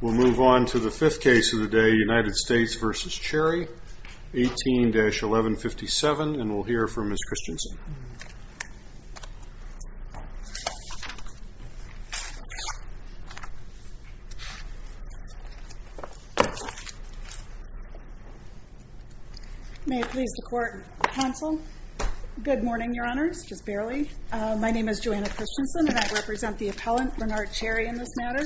We'll move on to the fifth case of the day, United States v. Cherry, 18-1157, and we'll hear from Ms. Christensen. May it please the court, counsel, good morning, your honors, just barely. My name is Joanna Christensen, and I represent the appellant, Bernard Cherry, in this matter.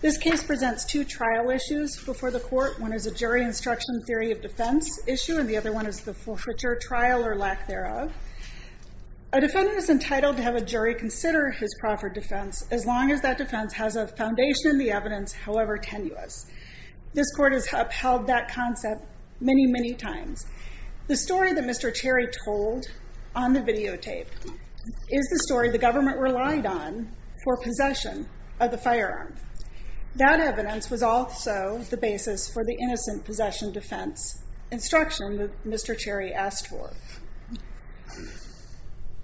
This case presents two trial issues before the court. One is a jury instruction theory of defense issue, and the other one is the forfeiture trial or lack thereof. A defendant is entitled to have a jury consider his proffered defense as long as that defense has a foundation in the evidence, however tenuous. This court has upheld that concept many, many times. The story that Mr. Cherry told on the videotape is the story the government relied on for possession of the firearm. That evidence was also the basis for the innocent possession defense instruction that Mr. Cherry asked for.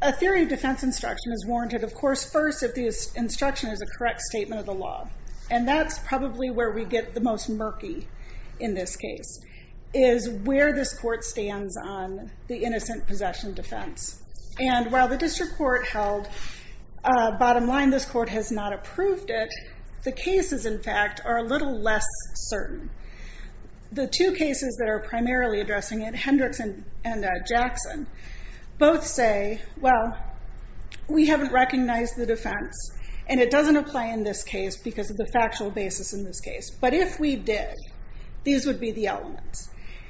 A theory of defense instruction is warranted, of course, first if the instruction is a correct statement of the law. And that's probably where we get the most murky in this case, is where this court stands on the innocent possession defense. And while the district court held, bottom line, this court has not approved it, the cases, in fact, are a little less certain. The two cases that are primarily addressing it, Hendricks and Jackson, both say, well, we haven't recognized the defense, and it doesn't apply in this case because of the factual basis in this case. But if we did, these would be the elements.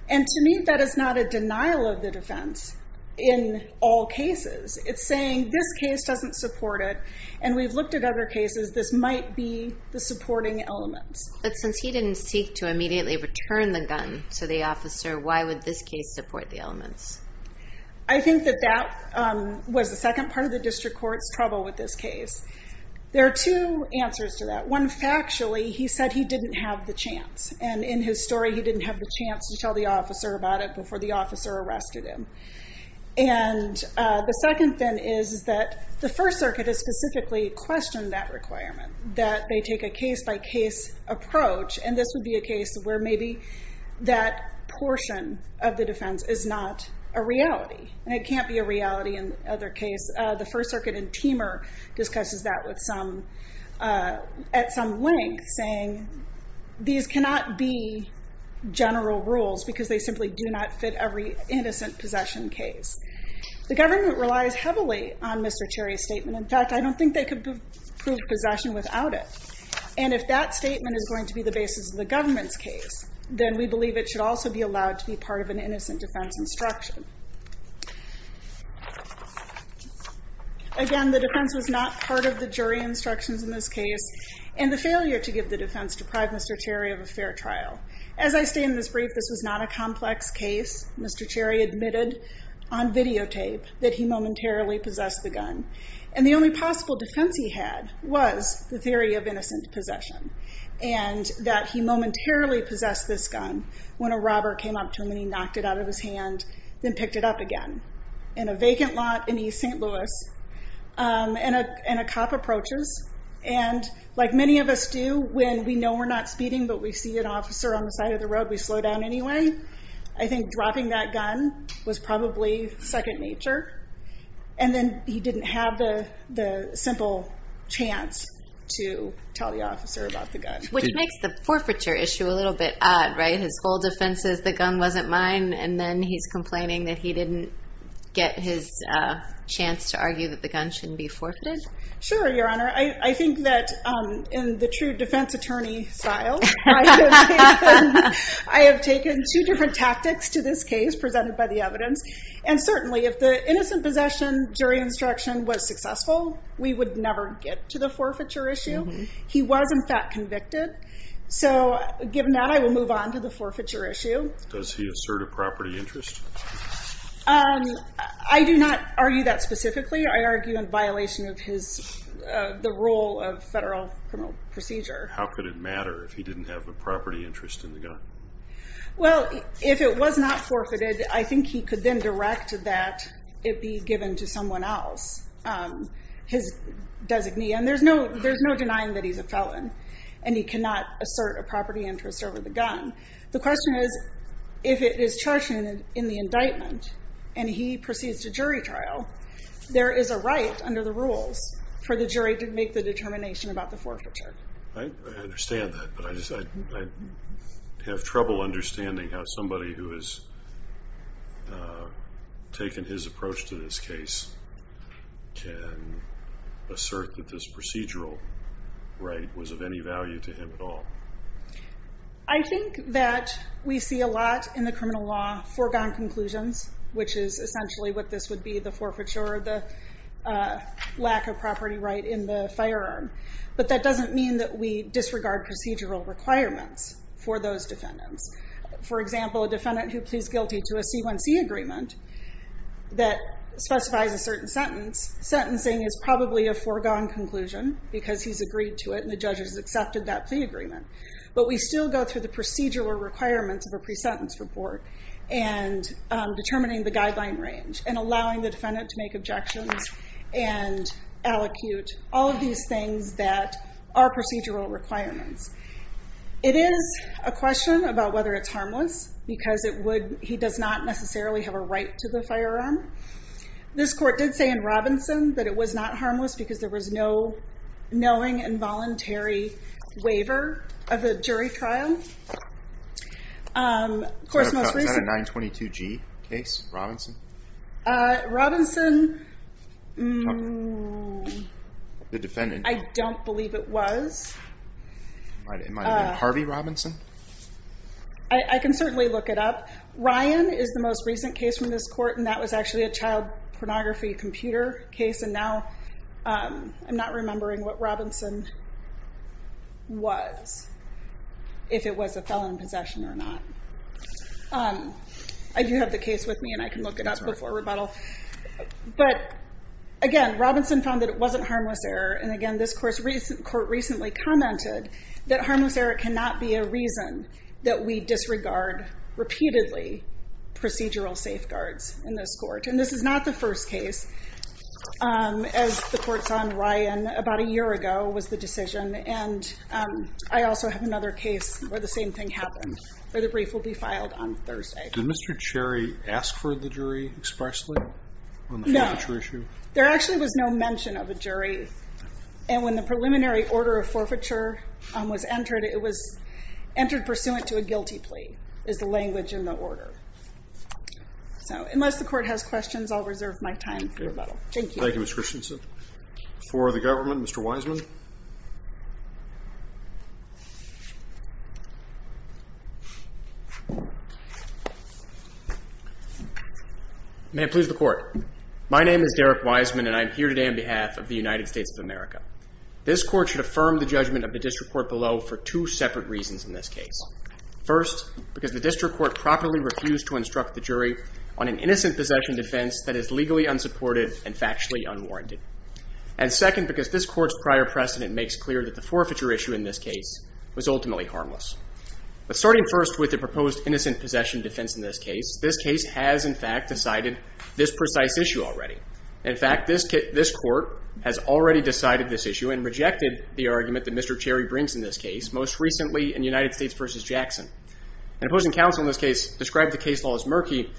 And to me, that is not a denial of the defense in all cases. It's saying this case doesn't support it, and we've looked at other cases, this might be the supporting elements. But since he didn't seek to immediately return the gun to the officer, why would this case support the elements? I think that that was the second part of the district court's trouble with this case. There are two answers to that. One, factually, he said he didn't have the chance. And in his story, he didn't have the chance to tell the officer about it before the officer arrested him. And the second thing is that the First Circuit has specifically questioned that requirement, that they take a case-by-case approach. And this would be a case where maybe that portion of the defense is not a reality. And it can't be a reality in the other case. The First Circuit in Teamer discusses that at some length, saying these cannot be general rules, because they simply do not fit every innocent possession case. The government relies heavily on Mr. Cherry's statement. In fact, I don't think they could prove possession without it. And if that statement is going to be the basis of the government's case, then we believe it should also be allowed to be part of an innocent defense instruction. Again, the defense was not part of the jury instructions in this case. And the failure to give the defense deprived Mr. Cherry of a fair trial. As I state in this brief, this was not a complex case. Mr. Cherry admitted on videotape that he momentarily possessed the gun. And the only possible defense he had was the theory of innocent possession. And that he momentarily possessed this gun when a robber came up to him and he knocked it out of his hand, then picked it up again. In a vacant lot in East St. Louis. And a cop approaches. And like many of us do, when we know we're not speeding but we see an officer on the side of the road, we slow down anyway. I think dropping that gun was probably second nature. And then he didn't have the simple chance to tell the officer about the gun. Which makes the forfeiture issue a little bit odd, right? His whole defense is the gun wasn't mine. And then he's complaining that he didn't get his chance to argue that the gun shouldn't be forfeited. Sure, Your Honor. I think that in the true defense attorney style, I have taken two different tactics to this case presented by the evidence. And certainly if the innocent possession jury instruction was successful, we would never get to the forfeiture issue. He was, in fact, convicted. So given that, I will move on to the forfeiture issue. Does he assert a property interest? I do not argue that specifically. I argue in violation of the rule of federal criminal procedure. How could it matter if he didn't have a property interest in the gun? Well, if it was not forfeited, I think he could then direct that it be given to someone else. His designee. And there's no denying that he's a felon. And he cannot assert a property interest over the gun. The question is, if it is charged in the indictment and he proceeds to jury trial, there is a right under the rules for the jury to make the determination about the forfeiture. I understand that. But I have trouble understanding how somebody who has taken his approach to this case can assert that this procedural right was of any value to him at all. I think that we see a lot in the criminal law foregone conclusions, which is essentially what this would be, the forfeiture, the lack of property right in the firearm. But that doesn't mean that we disregard procedural requirements for those defendants. For example, a defendant who pleads guilty to a C1C agreement that specifies a certain sentence, sentencing is probably a foregone conclusion because he's agreed to it and the judge has accepted that plea agreement. But we still go through the procedural requirements of a pre-sentence report and determining the guideline range and allowing the defendant to make objections and allocute. All of these things that are procedural requirements. It is a question about whether it's harmless because he does not necessarily have a right to the firearm. This court did say in Robinson that it was not harmless because there was no knowing involuntary waiver of the jury trial. Robinson, I don't believe it was. It might have been Harvey Robinson. I can certainly look it up. Ryan is the most recent case from this court and that was actually a child pornography computer case. And now I'm not remembering what Robinson was, if it was a felon in possession or not. I do have the case with me and I can look it up before rebuttal. But again, Robinson found that it wasn't harmless error. And again, this court recently commented that harmless error cannot be a reason that we disregard repeatedly procedural safeguards in this court. And this is not the first case. As the courts on Ryan about a year ago was the decision. And I also have another case where the same thing happened, where the brief will be filed on Thursday. Did Mr. Cherry ask for the jury expressly on the forfeiture issue? No. There actually was no mention of a jury. And when the preliminary order of forfeiture was entered, it was entered pursuant to a guilty plea, is the language in the order. So unless the court has questions, I'll reserve my time for rebuttal. Thank you. Thank you, Ms. Christensen. For the government, Mr. Wiseman. May it please the court. My name is Derek Wiseman and I'm here today on behalf of the United States of America. This court should affirm the judgment of the district court below for two separate reasons in this case. First, because the district court properly refused to instruct the jury on an innocent possession defense that is legally unsupported and factually unwarranted. And second, because this court's prior precedent makes clear that the forfeiture issue in this case was ultimately harmless. But starting first with the proposed innocent possession defense in this case, this case has in fact decided this precise issue already. In fact, this court has already decided this issue and rejected the argument that Mr. Cherry brings in this case, most recently in United States v. Jackson. And opposing counsel in this case described the case law as murky,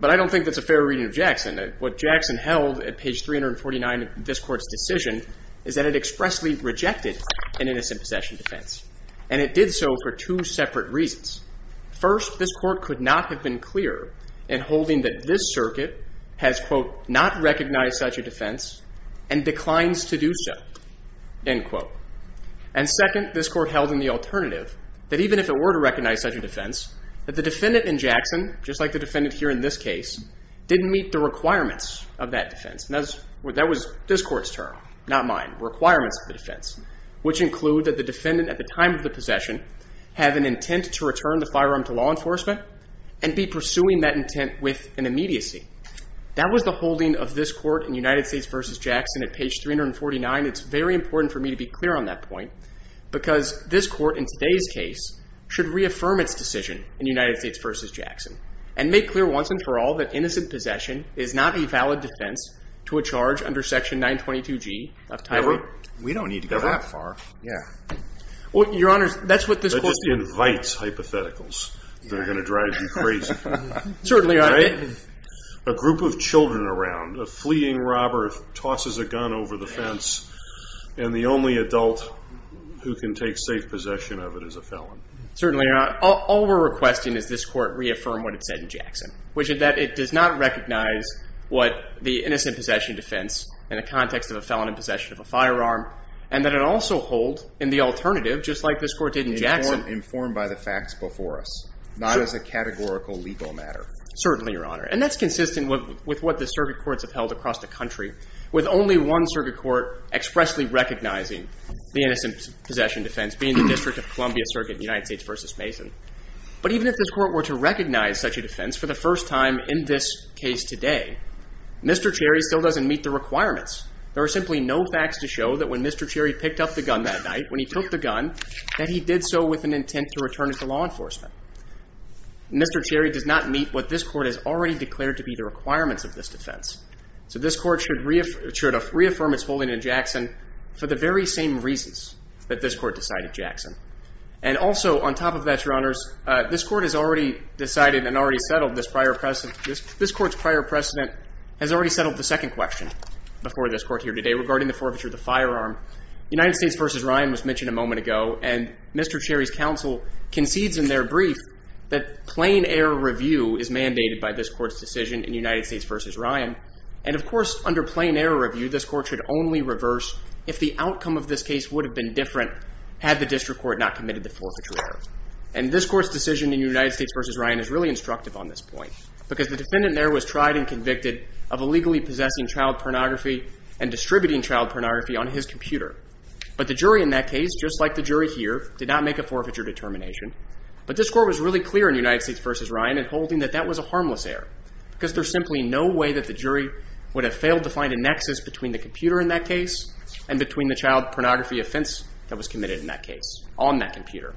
but I don't think that's a fair reading of Jackson. What Jackson held at page 349 of this court's decision is that it expressly rejected an innocent possession defense. And it did so for two separate reasons. First, this court could not have been clearer in holding that this circuit has, quote, not recognized such a defense and declines to do so, end quote. And second, this court held in the alternative that even if it were to recognize such a defense, that the defendant in Jackson, just like the defendant here in this case, didn't meet the requirements of that defense. And that was this court's term, not mine, requirements of the defense, which include that the defendant at the time of the possession have an intent to return the firearm to law enforcement and be pursuing that intent with an immediacy. That was the holding of this court in United States v. Jackson at page 349. It's very important for me to be clear on that point because this court in today's case should reaffirm its decision in United States v. Jackson and make clear once and for all that innocent possession is not a valid defense to a charge under Section 922G of Title 8. We don't need to go that far. Yeah. Well, Your Honors, that's what this court... That just invites hypotheticals that are going to drive you crazy. Certainly, Your Honor. A group of children around, a fleeing robber tosses a gun over the fence, and the only adult who can take safe possession of it is a felon. Certainly, Your Honor. All we're requesting is this court reaffirm what it said in Jackson, which is that it does not recognize what the innocent possession defense in the context of a felon in possession of a firearm, and that it also hold in the alternative, just like this court did in Jackson... Certainly, Your Honor. And that's consistent with what the circuit courts have held across the country with only one circuit court expressly recognizing the innocent possession defense being the District of Columbia Circuit in United States v. Mason. But even if this court were to recognize such a defense for the first time in this case today, Mr. Cherry still doesn't meet the requirements. There are simply no facts to show that when Mr. Cherry picked up the gun that night, when he took the gun, that he did so with an intent to return it to law enforcement. Mr. Cherry does not meet what this court has already declared to be the requirements of this defense. So this court should reaffirm its holding in Jackson for the very same reasons that this court decided, Jackson. And also, on top of that, Your Honors, this court has already decided and already settled this prior precedent. This court's prior precedent has already settled the second question before this court here today regarding the forfeiture of the firearm. United States v. Ryan was mentioned a moment ago, and Mr. Cherry's counsel concedes in their brief that plain error review is mandated by this court's decision in United States v. Ryan. And of course, under plain error review, this court should only reverse if the outcome of this case would have been different had the district court not committed the forfeiture error. And this court's decision in United States v. Ryan is really instructive on this point because the defendant there was tried and convicted of illegally possessing child pornography and distributing child pornography on his computer. But the jury in that case, just like the jury here, did not make a forfeiture determination. But this court was really clear in United States v. Ryan in holding that that was a harmless error because there's simply no way that the jury would have failed to find a nexus between the computer in that case and between the child pornography offense that was committed in that case on that computer.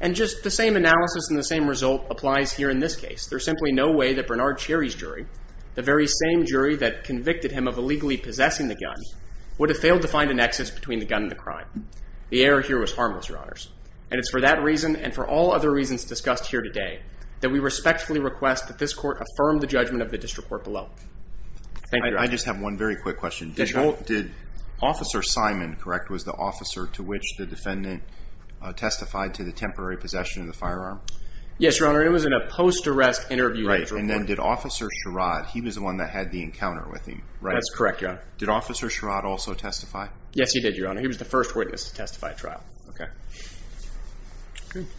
And just the same analysis and the same result applies here in this case. There's simply no way that Bernard Cherry's jury, the very same jury that convicted him of illegally possessing the gun, would have failed to find a nexus between the gun and the crime. The error here was harmless, Your Honors. And it's for that reason and for all other reasons discussed here today that we respectfully request that this court affirm the judgment of the district court below. Thank you, Your Honor. I just have one very quick question. Yes, Your Honor. Did Officer Simon, correct, was the officer to which the defendant testified to the temporary possession of the firearm? Yes, Your Honor. It was in a post-arrest interview. Right. And then did Officer Sherrod, he was the one that had the encounter with him, right? That's correct, Your Honor. Did Officer Sherrod also testify? Yes, he did, Your Honor. He was the first witness to testify at trial. Okay.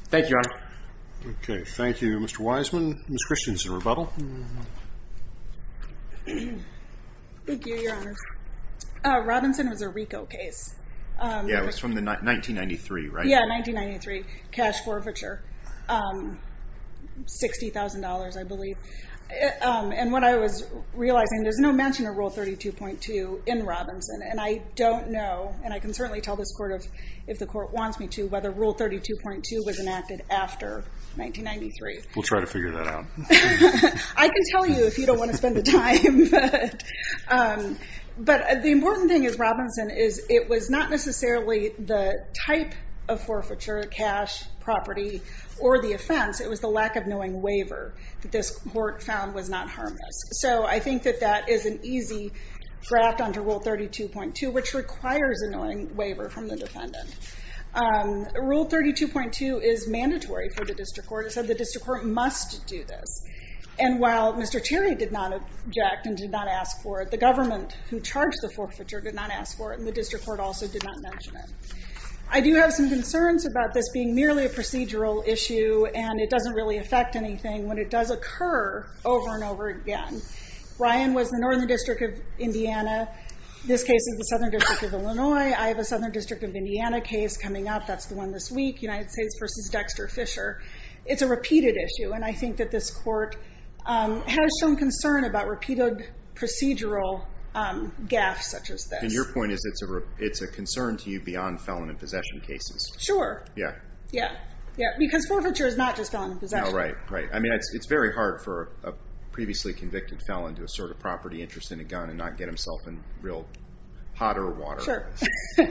Thank you, Your Honor. Okay. Thank you, Mr. Wiseman. Ms. Christiansen, rebuttal. Thank you, Your Honors. Robinson was a RICO case. Yeah, it was from 1993, right? Yeah, 1993. Cash forfeiture. $60,000, I believe. And what I was realizing, there's no mention of Rule 32.2 in Robinson. And I don't know, and I can certainly tell this court if the court wants me to, whether Rule 32.2 was enacted after 1993. We'll try to figure that out. I can tell you if you don't want to spend the time. But the important thing is, Robinson, is it was not necessarily the type of forfeiture, cash, property, or the offense. It was the lack of knowing waiver that this court found was not harmless. So I think that that is an easy draft under Rule 32.2, which requires a knowing waiver from the defendant. Rule 32.2 is mandatory for the district court. It said the district court must do this. And while Mr. Cherry did not object and did not ask for it, the government who charged the forfeiture did not ask for it, and the district court also did not mention it. I do have some concerns about this being merely a procedural issue, and it doesn't really affect anything when it does occur over and over again. Ryan was the Northern District of Indiana. This case is the Southern District of Illinois. I have a Southern District of Indiana case coming up. That's the one this week, United States v. Dexter Fisher. It's a repeated issue, and I think that this court has some concern about repeated procedural gaffes such as this. And your point is it's a concern to you beyond felon and possession cases? Sure. Yeah. Yeah, because forfeiture is not just felon and possession. Right, right. I mean, it's very hard for a previously convicted felon to assert a property interest in a gun and not get himself in real hotter water. Sure.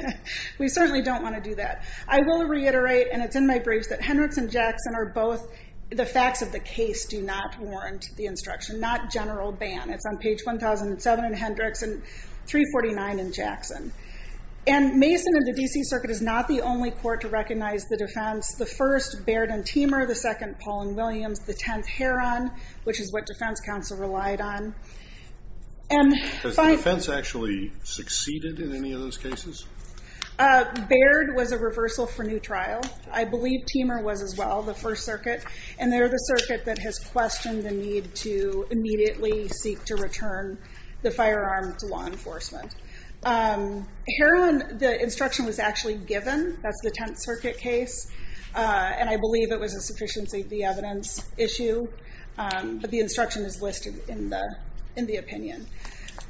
We certainly don't want to do that. I will reiterate, and it's in my briefs, that Hendricks and Jackson are both the facts of the case do not warrant the instruction, not general ban. It's on page 1007 in Hendricks and 349 in Jackson. And Mason and the D.C. Circuit is not the only court to recognize the defense. The first, Baird and Teamer. The second, Paul and Williams. The tenth, Heron, which is what defense counsel relied on. Has the defense actually succeeded in any of those cases? Baird was a reversal for new trial. I believe Teamer was as well, the first circuit. And they're the circuit that has questioned the need to immediately seek to return the firearm to law enforcement. Heron, the instruction was actually given. That's the tenth circuit case. And I believe it was a sufficiency of the evidence issue. But the instruction is listed in the opinion.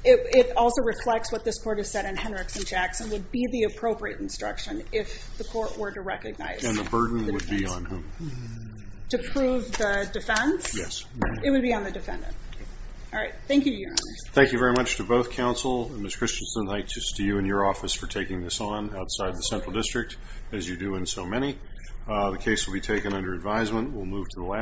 It also reflects what this court has said in Hendricks and Jackson, would be the appropriate instruction if the court were to recognize And the burden would be on whom? To prove the defense? Yes. It would be on the defendant. All right. Thank you, Your Honor. Thank you very much to both counsel and Ms. Christensen. Thank you to you and your office for taking this on outside the central district, as you do in so many. The case will be taken under advisement. We'll move to the last.